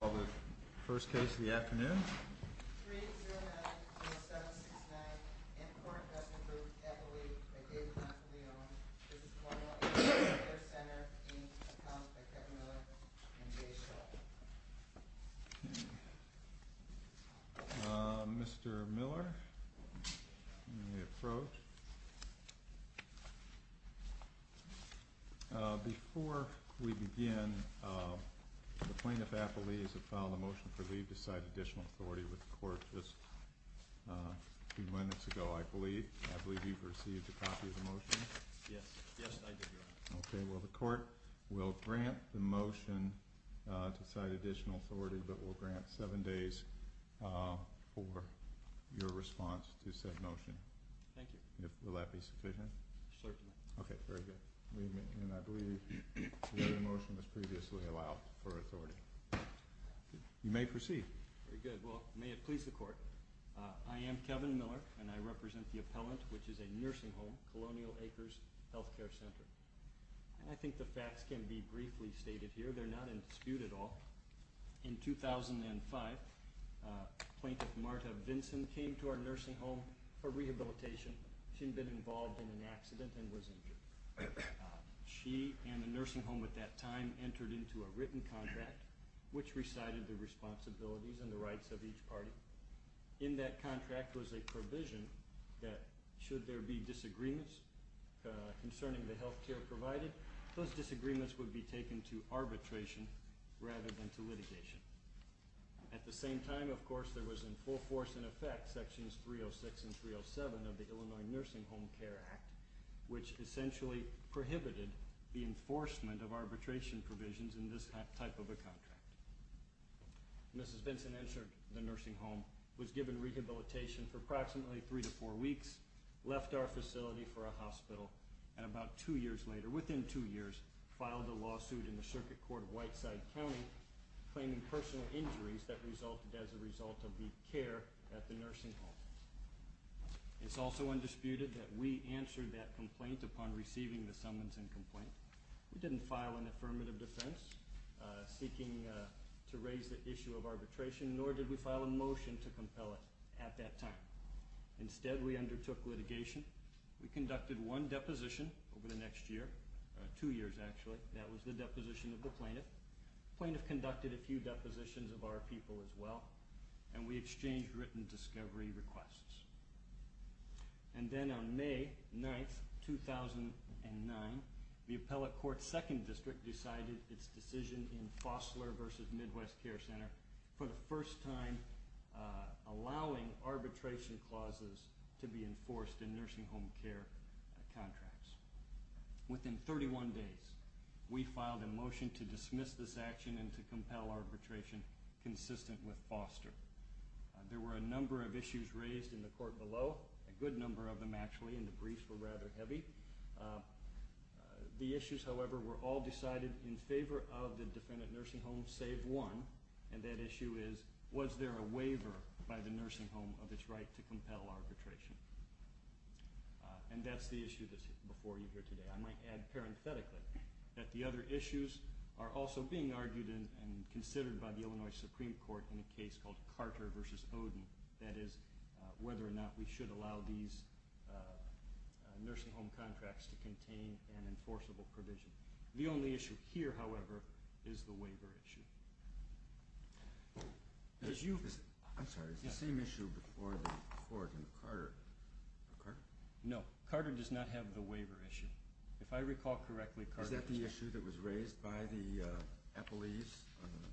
Well, the first case of the afternoon. 3-0-9-0-7-6-9 Incore Investment Group Appellee by David Napoleon. This is Colonial Acres Healthcare Centre being accounted by Kevin Miller and Jay Schultz. Before we begin, the plaintiff appellees have filed a motion for leave to cite additional authority with the court just a few minutes ago, I believe. I believe you've received a copy of the motion. Yes, I did, Your Honor. Okay, well the court will grant the motion to cite additional authority, but will grant seven days for your response to said motion. Thank you. Will that be sufficient? Certainly. Okay, very good. And I believe the motion was previously allowed for authority. You may proceed. Very good. Well, may it please the court. I am Kevin Miller and I represent the appellant, which is a nursing home, Colonial Acres Healthcare Centre. And I think the facts can be briefly stated here. They're not in dispute at all. In 2005, Plaintiff Marta Vinson came to our nursing home for rehabilitation. She had been involved in an accident and was injured. She and the nursing home at that time entered into a written contract which recited the responsibilities and the rights of each party. In that contract was a provision that should there be disagreements concerning the healthcare provided, those disagreements would be taken to arbitration rather than to litigation. At the same time, of course, there was in full force and effect sections 306 and 307 of the Illinois Nursing Home Care Act, which essentially prohibited the enforcement of arbitration provisions in this type of a contract. Mrs. Vinson entered the nursing home, was given rehabilitation for approximately three to four weeks, left our facility for a hospital, and about two years later, within two years, filed a lawsuit in the Circuit Court of Whiteside County claiming personal injuries that resulted as a result of the care at the nursing home. It's also undisputed that we answered that complaint upon receiving the summons and complaint. We didn't file an affirmative defense seeking to raise the issue of arbitration, nor did we file a motion to compel it at that time. Instead, we undertook litigation. We conducted one deposition over the next year, two years actually. That was the deposition of the plaintiff. The plaintiff conducted a few depositions of our people as well, and we exchanged written discovery requests. And then on May 9, 2009, the Appellate Court's Second District decided its decision in Fossler v. Midwest Care Center for the first time allowing arbitration clauses to be enforced in nursing home care contracts. Within 31 days, we filed a motion to dismiss this action and to compel arbitration consistent with Fossler. There were a number of issues raised in the court below, a good number of them actually, and the briefs were rather heavy. The issues, however, were all decided in favor of the defendant nursing home, save one. And that issue is, was there a waiver by the nursing home of its right to compel arbitration? And that's the issue that's before you here today. I might add parenthetically that the other issues are also being argued and considered by the Illinois Supreme Court in a case called Carter v. Oden, that is, whether or not we should allow these nursing home contracts to contain an enforceable provision. The only issue here, however, is the waiver issue. I'm sorry, is the same issue before the court in Carter? No, Carter does not have the waiver issue. If I recall correctly, Carter has the waiver issue. Is that the issue that was raised by the appellees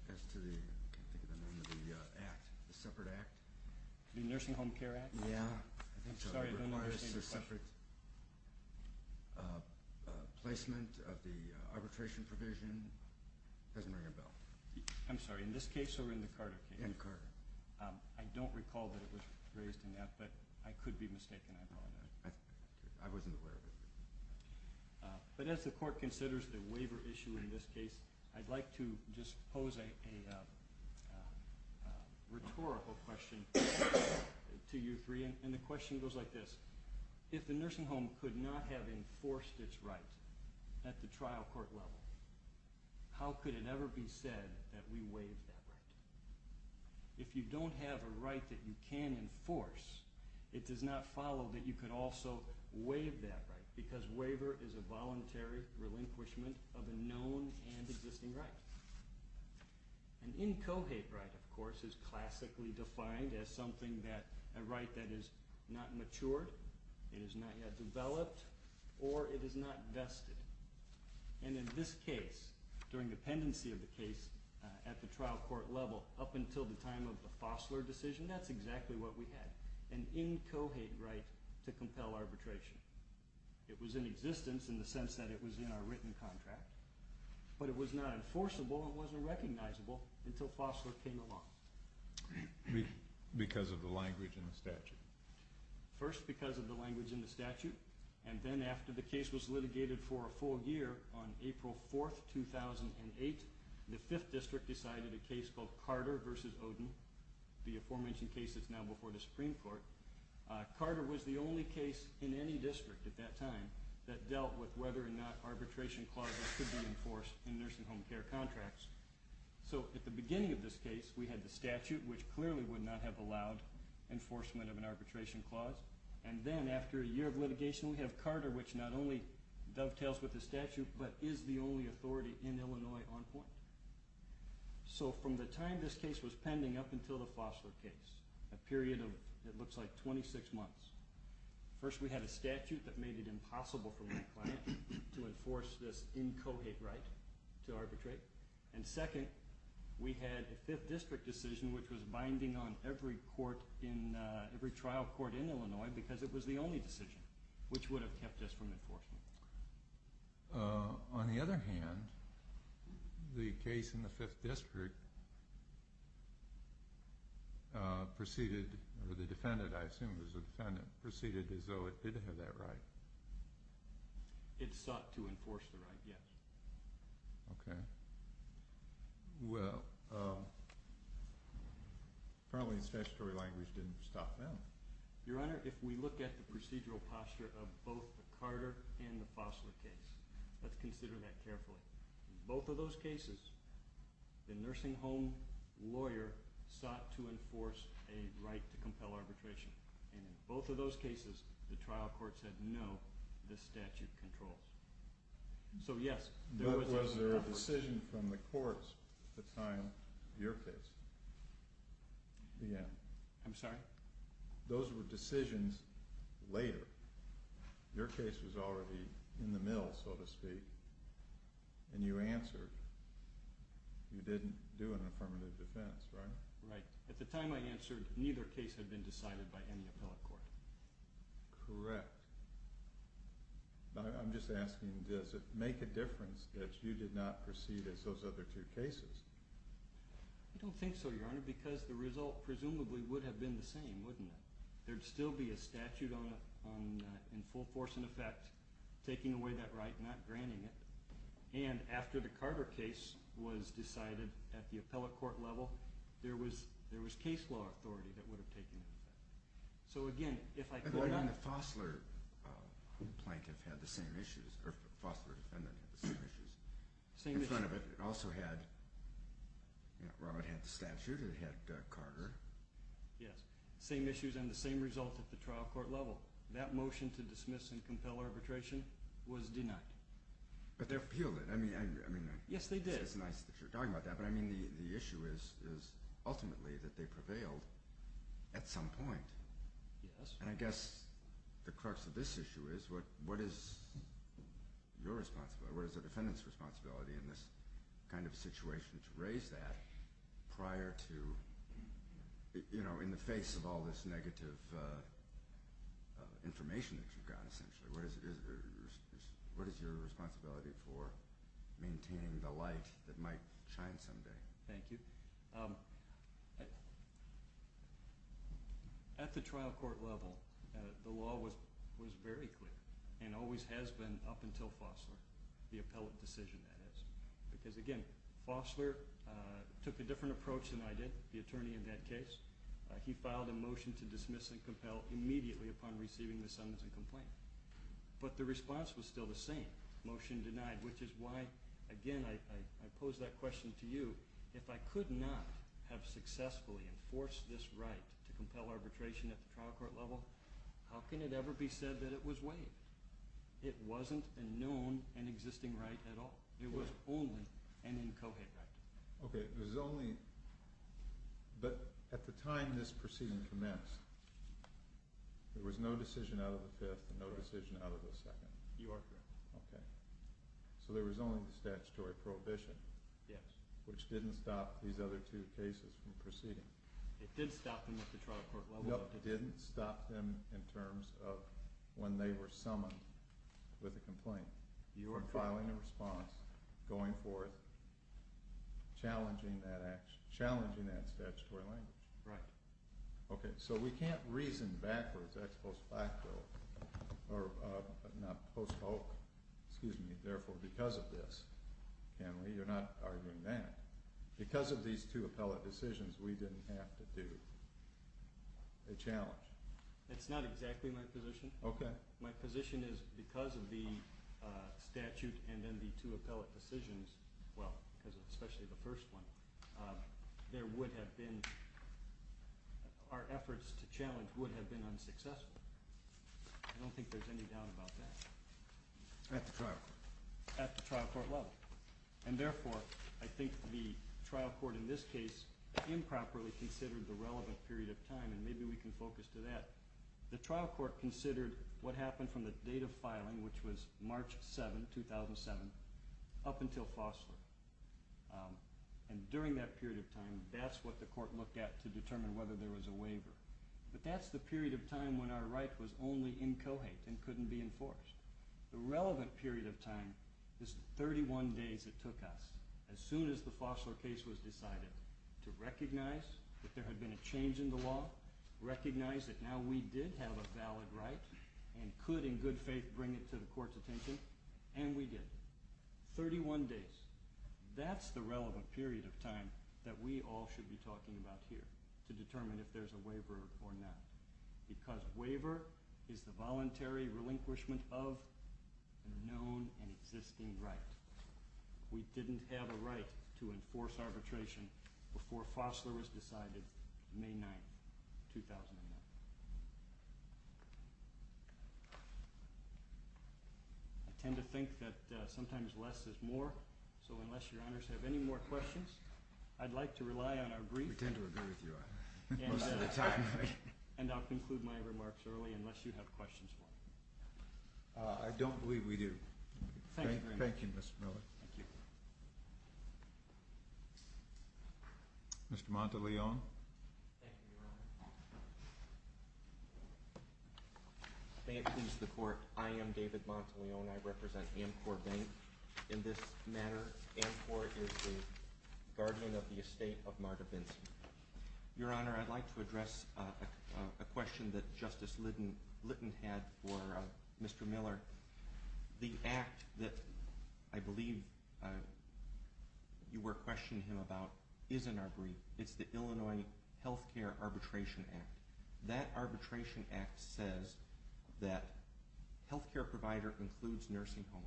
as to the, I can't think of the name of the act, the separate act? The Nursing Home Care Act? Yeah, I think so. I'm sorry, I don't understand your question. It requires a separate placement of the arbitration provision. It doesn't ring a bell. I'm sorry, in this case or in the Carter case? In Carter. I don't recall that it was raised in that, but I could be mistaken, I apologize. I wasn't aware of it. But as the court considers the waiver issue in this case, I'd like to just pose a rhetorical question to you three. And the question goes like this. If the nursing home could not have enforced its right at the trial court level, how could it ever be said that we waived that right? If you don't have a right that you can enforce, it does not follow that you can also waive that right, because waiver is a voluntary relinquishment of a known and existing right. An incohate right, of course, is classically defined as something that, a right that is not matured, it is not yet developed, or it is not vested. And in this case, during the pendency of the case at the trial court level, up until the time of the Fossler decision, that's exactly what we had. An incohate right to compel arbitration. It was in existence in the sense that it was in our written contract, but it was not enforceable, it wasn't recognizable, until Fossler came along. First, because of the language in the statute, and then after the case was litigated for a full year, on April 4, 2008, the 5th District decided a case called Carter v. Oden, the aforementioned case that's now before the Supreme Court. Carter was the only case in any district at that time that dealt with whether or not arbitration clauses could be enforced in nursing home care contracts. So, at the beginning of this case, we had the statute, which clearly would not have allowed enforcement of an arbitration clause. And then, after a year of litigation, we have Carter, which not only dovetails with the statute, but is the only authority in Illinois on point. So, from the time this case was pending up until the Fossler case, a period of, it looks like, 26 months, first, we had a statute that made it impossible for my client to enforce this incohate right to arbitrate, and second, we had a 5th District decision which was binding on every trial court in Illinois because it was the only decision which would have kept us from enforcing it. On the other hand, the case in the 5th District proceeded, or the defendant, I assume it was the defendant, proceeded as though it did have that right. It sought to enforce the right, yes. Okay. Well, probably statutory language didn't stop them. Your Honor, if we look at the procedural posture of both the Carter and the Fossler case, let's consider that carefully. In both of those cases, the nursing home lawyer sought to enforce a right to compel arbitration. And in both of those cases, the trial court said, no, this statute controls. So, yes, there was a… But was there a decision from the courts at the time of your case? Yeah. I'm sorry? Those were decisions later. Your case was already in the mill, so to speak, and you answered. You didn't do an affirmative defense, right? Right. At the time I answered, neither case had been decided by any appellate court. Correct. I'm just asking, does it make a difference that you did not proceed as those other two cases? I don't think so, Your Honor, because the result presumably would have been the same, wouldn't it? There would still be a statute in full force and effect taking away that right, not granting it. And after the Carter case was decided at the appellate court level, there was case law authority that would have taken effect. So, again, if I could… The Fosler plaintiff had the same issues – or Fosler defendant had the same issues in front of it. It also had – Robert had the statute. It had Carter. Yes. Same issues and the same results at the trial court level. That motion to dismiss and compel arbitration was denied. But they appealed it. I mean… Yes, they did. It's nice that you're talking about that, but I mean the issue is ultimately that they prevailed at some point. Yes. And I guess the crux of this issue is what is your responsibility? What is the defendant's responsibility in this kind of situation to raise that prior to, you know, in the face of all this negative information that you've gotten, essentially? What is your responsibility for maintaining the light that might shine someday? Thank you. At the trial court level, the law was very clear and always has been up until Fosler, the appellate decision that is. Because, again, Fosler took a different approach than I did, the attorney in that case. He filed a motion to dismiss and compel immediately upon receiving the sentence and complaint. But the response was still the same, motion denied, which is why, again, I pose that question to you. If I could not have successfully enforced this right to compel arbitration at the trial court level, how can it ever be said that it was waived? It wasn't a known and existing right at all. It was only an incoherent right. Okay, it was only… But at the time this proceeding commenced, there was no decision out of the fifth and no decision out of the second. You are correct. Okay. So there was only the statutory prohibition. Yes. Which didn't stop these other two cases from proceeding. It did stop them at the trial court level. No, it didn't stop them in terms of when they were summoned with a complaint. You are correct. Filing a response, going forth, challenging that action, challenging that statutory language. Right. Okay, so we can't reason backwards, ex post facto, or not post hoc, excuse me, therefore because of this, can we? You're not arguing that. Because of these two appellate decisions, we didn't have to do a challenge. That's not exactly my position. Okay. My position is because of the statute and then the two appellate decisions, well, especially the first one, there would have been, our efforts to challenge would have been unsuccessful. I don't think there's any doubt about that. At the trial court. At the trial court level. And therefore, I think the trial court in this case improperly considered the relevant period of time, and maybe we can focus to that. The trial court considered what happened from the date of filing, which was March 7, 2007, up until Fosler. And during that period of time, that's what the court looked at to determine whether there was a waiver. But that's the period of time when our right was only in co-hate and couldn't be enforced. The relevant period of time is 31 days it took us, as soon as the Fosler case was decided, to recognize that there had been a change in the law, recognize that now we did have a valid right and could in good faith bring it to the court's attention, and we did. 31 days. That's the relevant period of time that we all should be talking about here, to determine if there's a waiver or not. Because waiver is the voluntary relinquishment of a known and existing right. We didn't have a right to enforce arbitration before Fosler was decided May 9, 2001. I tend to think that sometimes less is more, so unless your honors have any more questions, I'd like to rely on our brief. We tend to agree with you most of the time. And I'll conclude my remarks early, unless you have questions for me. I don't believe we do. Thank you, Mr. Miller. Thank you. Mr. Monteleone. Thank you, Your Honor. May it please the Court, I am David Monteleone. I represent Amcor Bank. In this matter, Amcor is the guardian of the estate of Marta Benson. Your Honor, I'd like to address a question that Justice Litton had for Mr. Miller. The act that I believe you were questioning him about isn't our brief. It's the Illinois Health Care Arbitration Act. That Arbitration Act says that health care provider includes nursing home.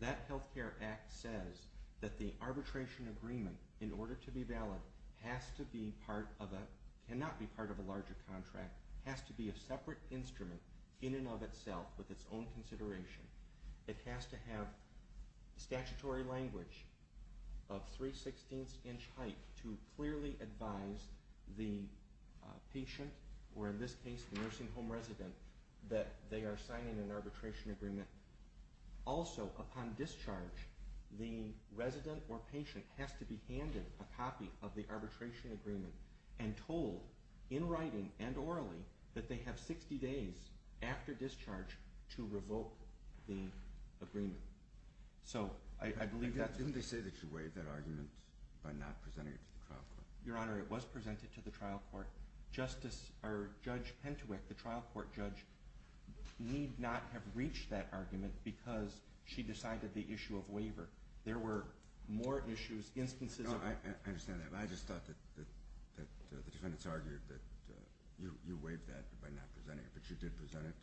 That Health Care Act says that the arbitration agreement, in order to be valid, cannot be part of a larger contract. It has to be a separate instrument in and of itself with its own consideration. It has to have statutory language of 3 16th inch height to clearly advise the patient, or in this case the nursing home resident, that they are signing an arbitration agreement. Also, upon discharge, the resident or patient has to be handed a copy of the arbitration agreement and told, in writing and orally, that they have 60 days after discharge to revoke the agreement. Didn't they say that you waived that argument by not presenting it to the trial court? Your Honor, it was presented to the trial court. Judge Pentewick, the trial court judge, need not have reached that argument because she decided the issue of waiver. There were more issues, instances of... I understand that. I just thought that the defendants argued that you waived that by not presenting it, but you did present it.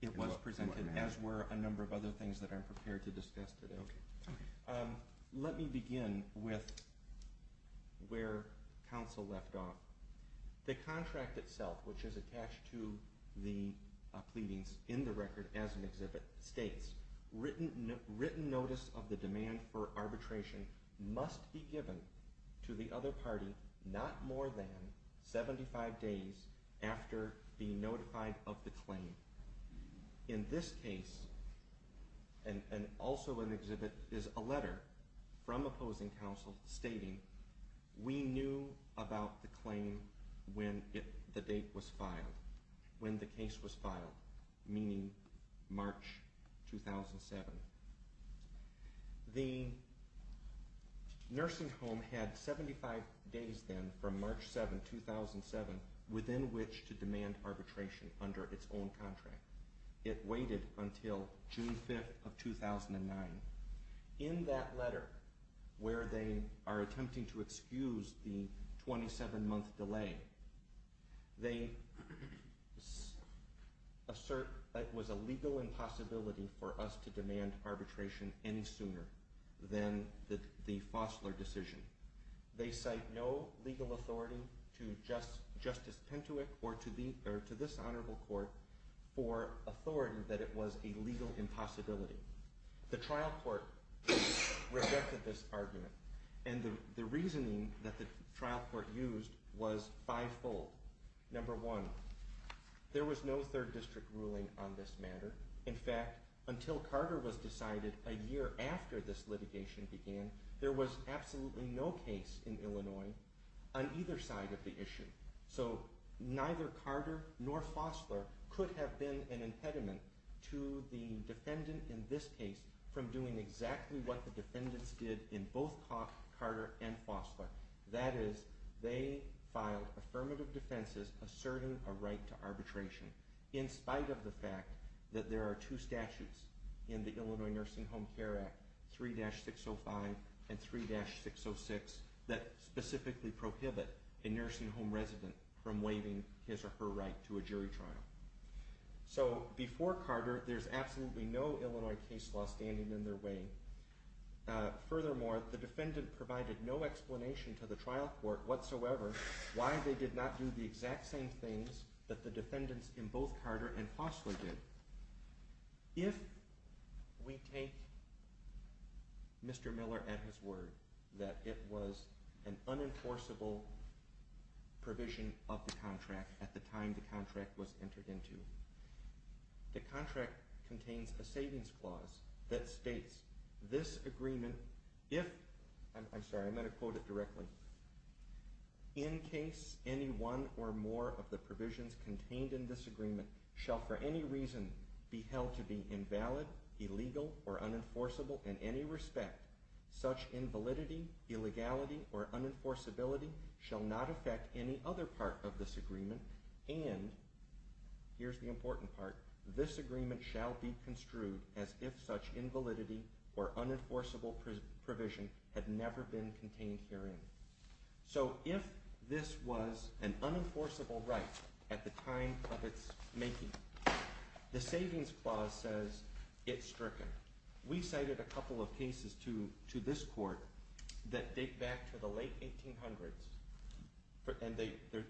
It was presented, as were a number of other things that I'm prepared to discuss today. Let me begin with where counsel left off. The contract itself, which is attached to the pleadings in the record as an exhibit, states, written notice of the demand for arbitration must be given to the other party not more than 75 days after being notified of the claim. In this case, and also in the exhibit, is a letter from opposing counsel stating, we knew about the claim when the date was filed, when the case was filed, meaning March 2007. The nursing home had 75 days then from March 7, 2007, within which to demand arbitration under its own contract. It waited until June 5, 2009. In that letter, where they are attempting to excuse the 27-month delay, they assert that it was a legal impossibility for us to demand arbitration any sooner than the Fosler decision. They cite no legal authority to Justice Pentewick or to this Honorable Court for authority that it was a legal impossibility. The trial court rejected this argument, and the reasoning that the trial court used was five-fold. Number one, there was no third district ruling on this matter. In fact, until Carter was decided a year after this litigation began, there was absolutely no case in Illinois on either side of the issue. So neither Carter nor Fosler could have been an impediment to the defendant in this case from doing exactly what the defendants did in both Carter and Fosler. That is, they filed affirmative defenses asserting a right to arbitration, in spite of the fact that there are two statutes in the Illinois Nursing Home Care Act, 3-605 and 3-606, that specifically prohibit a nursing home resident from waiving his or her right to a jury trial. So before Carter, there's absolutely no Illinois case law standing in their way. Furthermore, the defendant provided no explanation to the trial court whatsoever why they did not do the exact same things that the defendants in both Carter and Fosler did. If we take Mr. Miller at his word that it was an unenforceable provision of the contract at the time the contract was entered into, the contract contains a savings clause that states, this agreement, if, I'm sorry, I'm going to quote it directly, in case any one or more of the provisions contained in this agreement shall for any reason be held to be invalid, illegal, or unenforceable in any respect, such invalidity, illegality, or unenforceability shall not affect any other part of this agreement, and, here's the important part, this agreement shall be construed as if such invalidity or unenforceable provision had never been contained herein. So if this was an unenforceable right at the time of its making, the savings clause says it's stricken. We cited a couple of cases to this court that date back to the late 1800s, and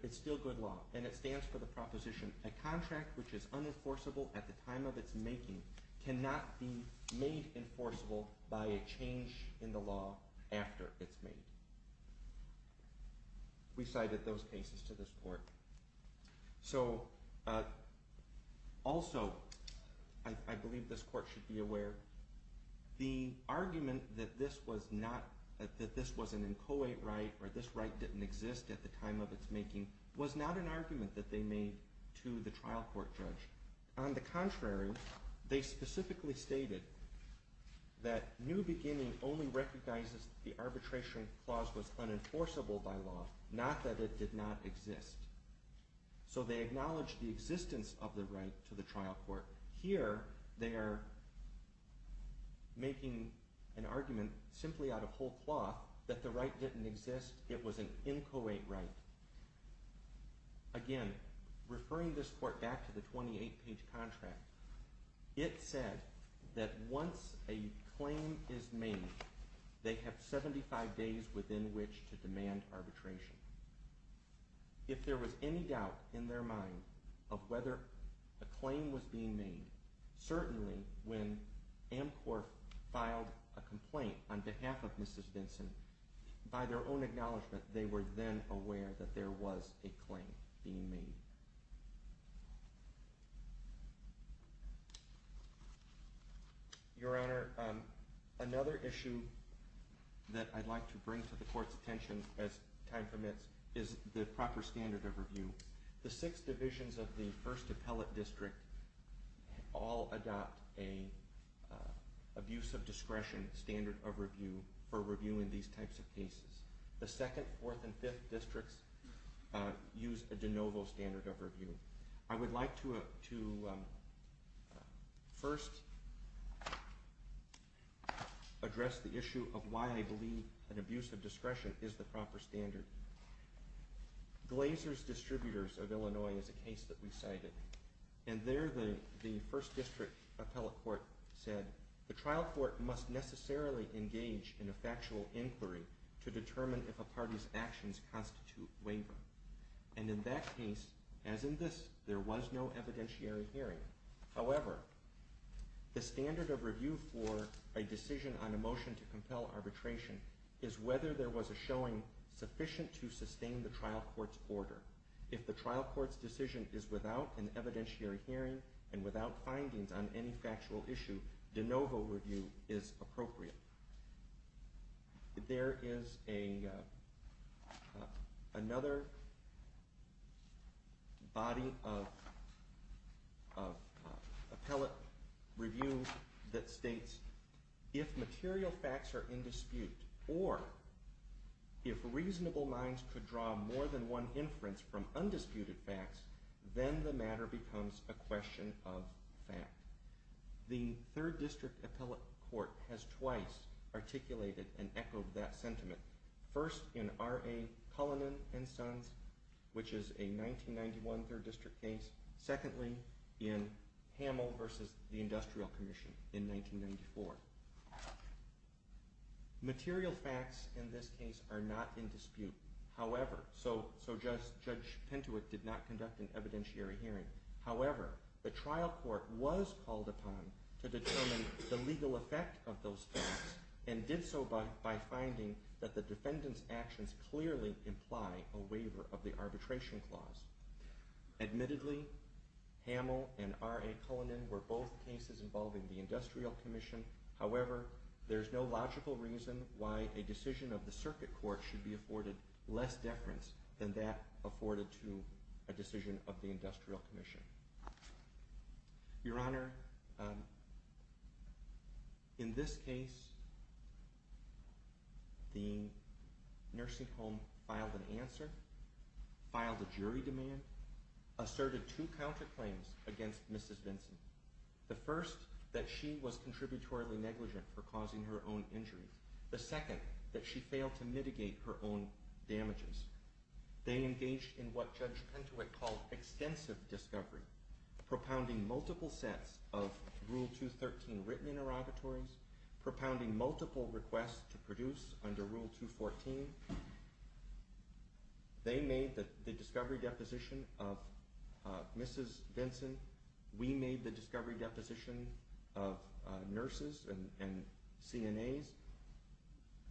it's still good law, and it stands for the proposition that a contract which is unenforceable at the time of its making cannot be made enforceable by a change in the law after it's made. We cited those cases to this court. So, also, I believe this court should be aware, the argument that this was an inchoate right or this right didn't exist at the time of its making was not an argument that they made to the trial court judge. On the contrary, they specifically stated that New Beginning only recognizes that the arbitration clause was unenforceable by law, not that it did not exist. So they acknowledged the existence of the right to the trial court. Here, they are making an argument simply out of whole cloth that the right didn't exist, it was an inchoate right. Again, referring this court back to the 28-page contract, it said that once a claim is made, they have 75 days within which to demand arbitration. If there was any doubt in their mind of whether a claim was being made, certainly when AMCOR filed a complaint on behalf of Mrs. Vinson, by their own acknowledgement, they were then aware that there was a claim being made. Your Honor, another issue that I'd like to bring to the court's attention, as time permits, is the proper standard of review. The six divisions of the 1st Appellate District all adopt an abuse of discretion standard of review for reviewing these types of cases. The 2nd, 4th, and 5th districts use a de novo standard of review. I would like to first address the issue of why I believe an abuse of discretion is the proper standard. Glazer's Distributors of Illinois is a case that we cited, and there the 1st District Appellate Court said, the trial court must necessarily engage in a factual inquiry to determine if a party's actions constitute wavering. And in that case, as in this, there was no evidentiary hearing. However, the standard of review for a decision on a motion to compel arbitration is whether there was a showing sufficient to sustain the trial court's order. If the trial court's decision is without an evidentiary hearing and without findings on any factual issue, de novo review is appropriate. There is another body of appellate review that states, if material facts are in dispute or if reasonable lines could draw more than one inference from undisputed facts, then the matter becomes a question of fact. The 3rd District Appellate Court has twice articulated and echoed that sentiment. First, in R.A. Cullinan and Sons, which is a 1991 3rd District case. Secondly, in Hamill v. The Industrial Commission in 1994. Material facts in this case are not in dispute, however, so Judge Pintoit did not conduct an evidentiary hearing. However, the trial court was called upon to determine the legal effect of those facts and did so by finding that the defendant's actions clearly imply a waiver of the arbitration clause. Admittedly, Hamill and R.A. Cullinan were both cases involving the Industrial Commission. However, there is no logical reason why a decision of the circuit court should be afforded less deference than that afforded to a decision of the Industrial Commission. Your Honor, in this case, the nursing home filed an answer, filed a jury demand, asserted two counterclaims against Mrs. Benson. The first, that she was contributorily negligent for causing her own injury. The second, that she failed to mitigate her own damages. They engaged in what Judge Pintoit called extensive discovery, propounding multiple sets of Rule 213 written interrogatories, propounding multiple requests to produce under Rule 214. They made the discovery deposition of Mrs. Benson. We made the discovery deposition of nurses and CNAs.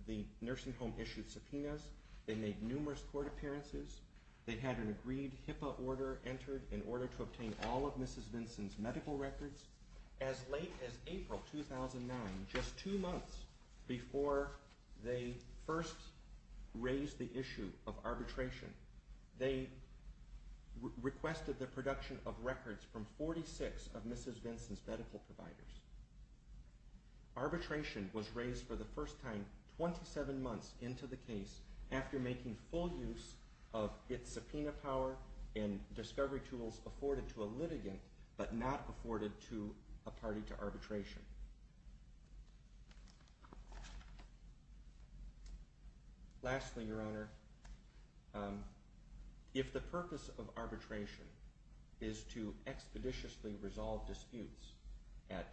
The nursing home issued subpoenas. They made numerous court appearances. They had an agreed HIPAA order entered in order to obtain all of Mrs. Benson's medical records. As late as April 2009, just two months before they first raised the issue of arbitration, they requested the production of records from 46 of Mrs. Benson's medical providers. Arbitration was raised for the first time 27 months into the case after making full use of its subpoena power and discovery tools afforded to a litigant, but not afforded to a party to arbitration. Lastly, Your Honor, if the purpose of arbitration is to expeditiously resolve disputes at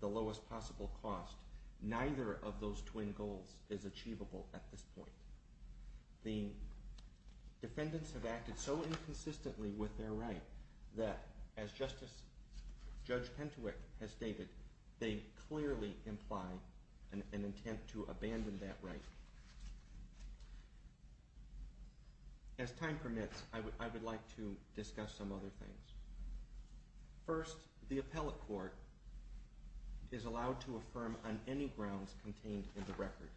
the lowest possible cost, neither of those twin goals is achievable at this point. The defendants have acted so inconsistently with their right that, as Justice Judge Pintoit has stated, they clearly imply an intent to abandon that right. As time permits, I would like to discuss some other things. First, the appellate court is allowed to affirm on any grounds contained in the record,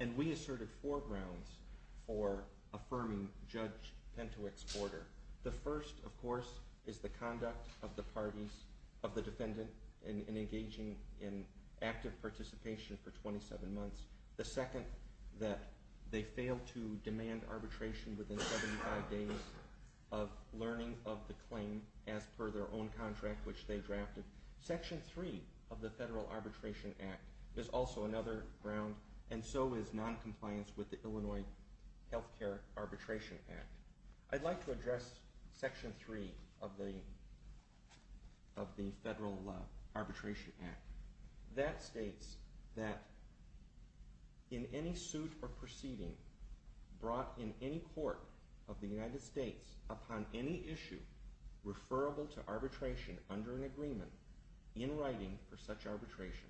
and we asserted four grounds for affirming Judge Pintoit's order. The first, of course, is the conduct of the defendant in engaging in active participation for 27 months. The second, that they failed to demand arbitration within 75 days of learning of the claim as per their own contract, which they drafted. Section 3 of the Federal Arbitration Act is also another ground, and so is noncompliance with the Illinois Healthcare Arbitration Act. I'd like to address Section 3 of the Federal Arbitration Act. That states that in any suit or proceeding brought in any court of the United States upon any issue referable to arbitration under an agreement in writing for such arbitration,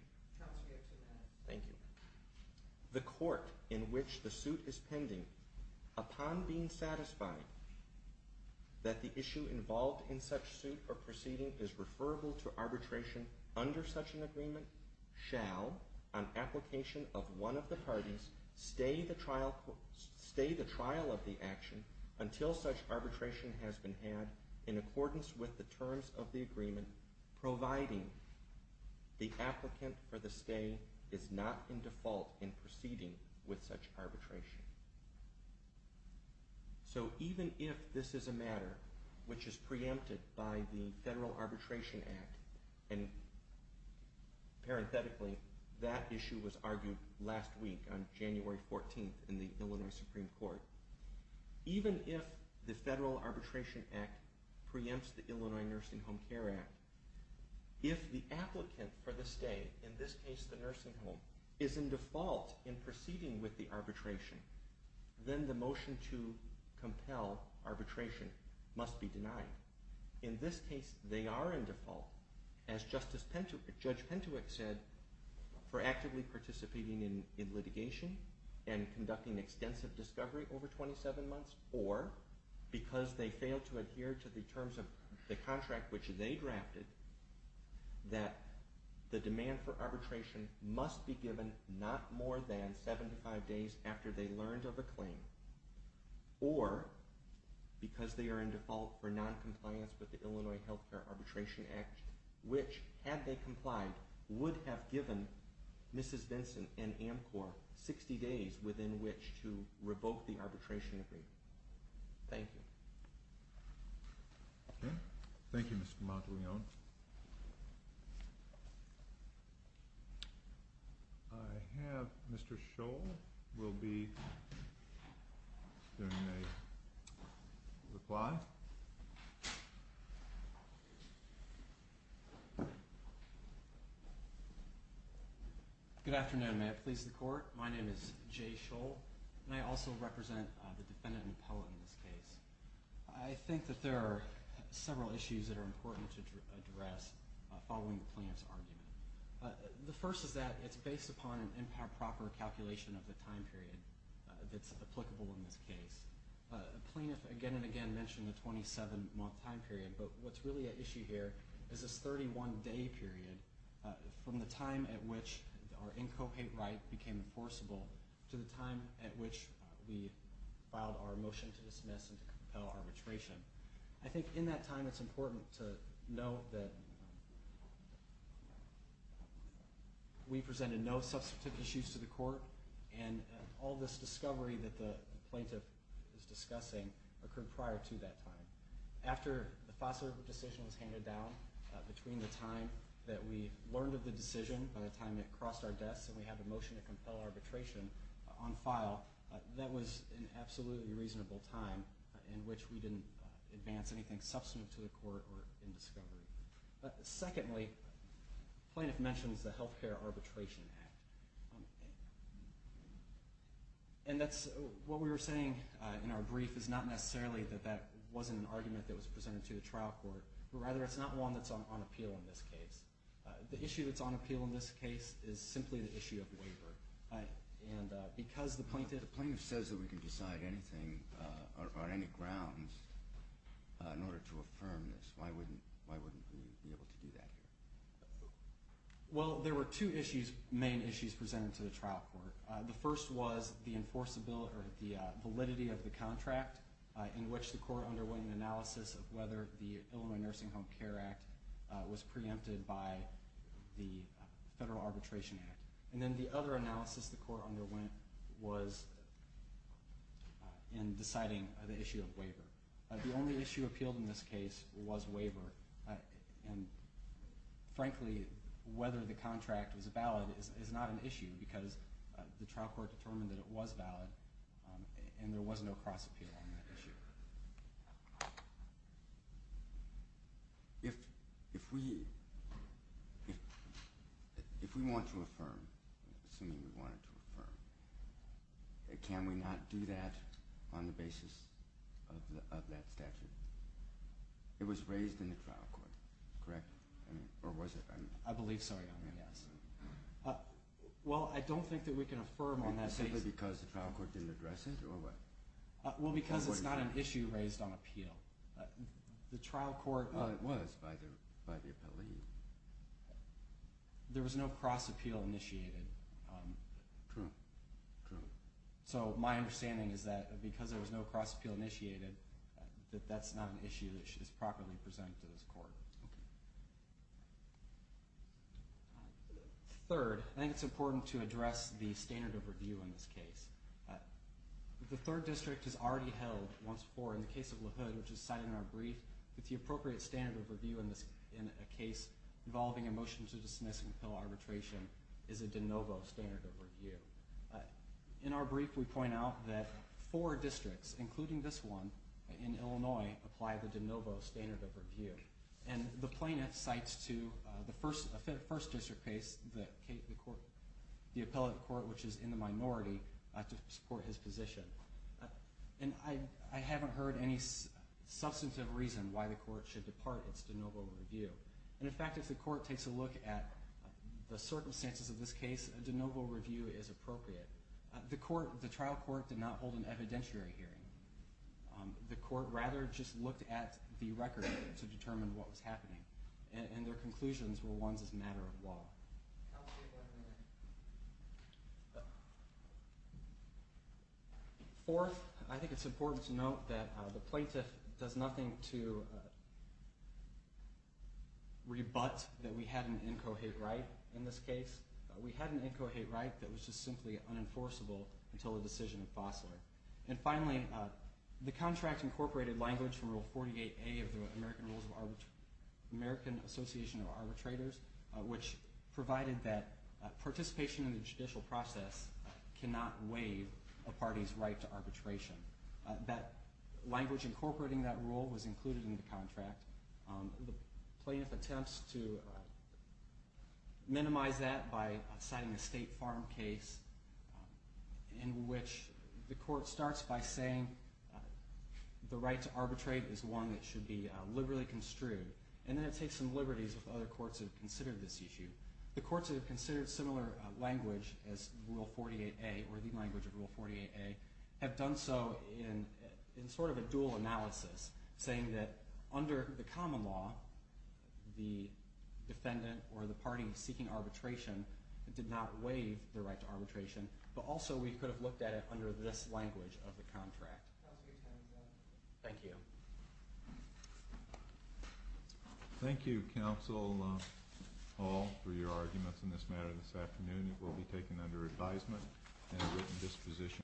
the court in which the suit is pending, upon being satisfied that the issue involved in such suit or proceeding is referable to arbitration under such an agreement, shall, on application of one of the parties, stay the trial of the action until such arbitration has been had in accordance with the terms of the agreement, providing the applicant for the stay is not in default in proceeding with such arbitration. So even if this is a matter which is preempted by the Federal Arbitration Act, and parenthetically, that issue was argued last week on January 14th in the Illinois Supreme Court, even if the Federal Arbitration Act preempts the Illinois Nursing Home Care Act, if the applicant for the stay, in this case the nursing home, is in default in proceeding with the arbitration, then the motion to compel arbitration must be denied. In this case, they are in default, as Judge Pentewick said, for actively participating in litigation and conducting extensive discovery over 27 months, or because they failed to adhere to the terms of the contract which they drafted, that the demand for arbitration must be given not more than 75 days after they learned of a claim, or because they are in default for noncompliance with the Illinois Healthcare Arbitration Act, which, had they complied, would have given Mrs. Benson and AMCOR 60 days within which to revoke the arbitration agreement. Thank you. Okay. Thank you, Mr. Monteleone. I have Mr. Scholl will be doing a reply. Good afternoon. May it please the Court? My name is Jay Scholl, and I also represent the defendant and appellate in this case. I think that there are several issues that are important to address following the plaintiff's argument. The first is that it's based upon an improper calculation of the time period that's applicable in this case. The plaintiff again and again mentioned the 27-month time period, but what's really at issue here is this 31-day period from the time at which our incopate right became enforceable to the time at which we filed our motion to dismiss and to compel arbitration. I think in that time it's important to note that we presented no substantive issues to the Court, and all this discovery that the plaintiff is discussing occurred prior to that time. After the FOSTA decision was handed down, between the time that we learned of the decision, by the time it crossed our desks and we had a motion to compel arbitration on file, that was an absolutely reasonable time in which we didn't advance anything substantive to the Court or in discovery. Secondly, the plaintiff mentions the Health Care Arbitration Act. What we were saying in our brief is not necessarily that that wasn't an argument that was presented to the trial court, but rather it's not one that's on appeal in this case. The issue that's on appeal in this case is simply the issue of waiver. Because the plaintiff says that we can decide anything on any grounds in order to affirm this, why wouldn't we be able to do that here? Well, there were two main issues presented to the trial court. The first was the validity of the contract in which the Court underwent an analysis of whether the Illinois Nursing Home Care Act was preempted by the Federal Arbitration Act. And then the other analysis the Court underwent was in deciding the issue of waiver. The only issue appealed in this case was waiver. And frankly, whether the contract was valid is not an issue because the trial court determined that it was valid and there was no cross-appeal on that issue. If we want to affirm, can we not do that on the basis of that statute? It was raised in the trial court, correct? Or was it? I believe so, yes. Well, I don't think that we can affirm on that basis. Simply because the trial court didn't address it, or what? Well, because it's not an issue raised on appeal. The trial court... Well, it was by the appellee. There was no cross-appeal initiated. True, true. So my understanding is that because there was no cross-appeal initiated, that that's not an issue that is properly presented to this Court. Third, I think it's important to address the standard of review in this case. The third district has already held once before in the case of LaHood, which is cited in our brief, that the appropriate standard of review in a case involving a motion to dismiss and appeal arbitration is a de novo standard of review. In our brief, we point out that four districts, including this one in Illinois, apply the de novo standard of review. And the plaintiff cites to the first district case, the appellate court, which is in the minority, to support his position. And I haven't heard any substantive reason why the court should depart its de novo review. And in fact, if the court takes a look at the circumstances of this case, a de novo review is appropriate. The trial court did not hold an evidentiary hearing. The court rather just looked at the record to determine what was happening. And their conclusions were ones as a matter of law. Fourth, I think it's important to note that the plaintiff does nothing to rebut that we had an incohate right in this case. We had an incohate right that was just simply unenforceable until the decision of Fosler. And finally, the contract incorporated language from Rule 48A of the American Association of Arbitrators, which provided that participation in the judicial process cannot waive a party's right to arbitration. That language incorporating that rule was included in the contract. The plaintiff attempts to minimize that by citing a State Farm case in which the court starts by saying the right to arbitrate is one that should be liberally construed. And then it takes some liberties if other courts have considered this issue. The courts that have considered similar language as Rule 48A, or the language of Rule 48A, have done so in sort of a dual analysis, saying that under the common law, the defendant or the party seeking arbitration did not waive their right to arbitration, but also we could have looked at it under this language of the contract. Thank you. Thank you, Counsel Hall, for your arguments in this matter this afternoon. It will be taken under advisement and a written disposition.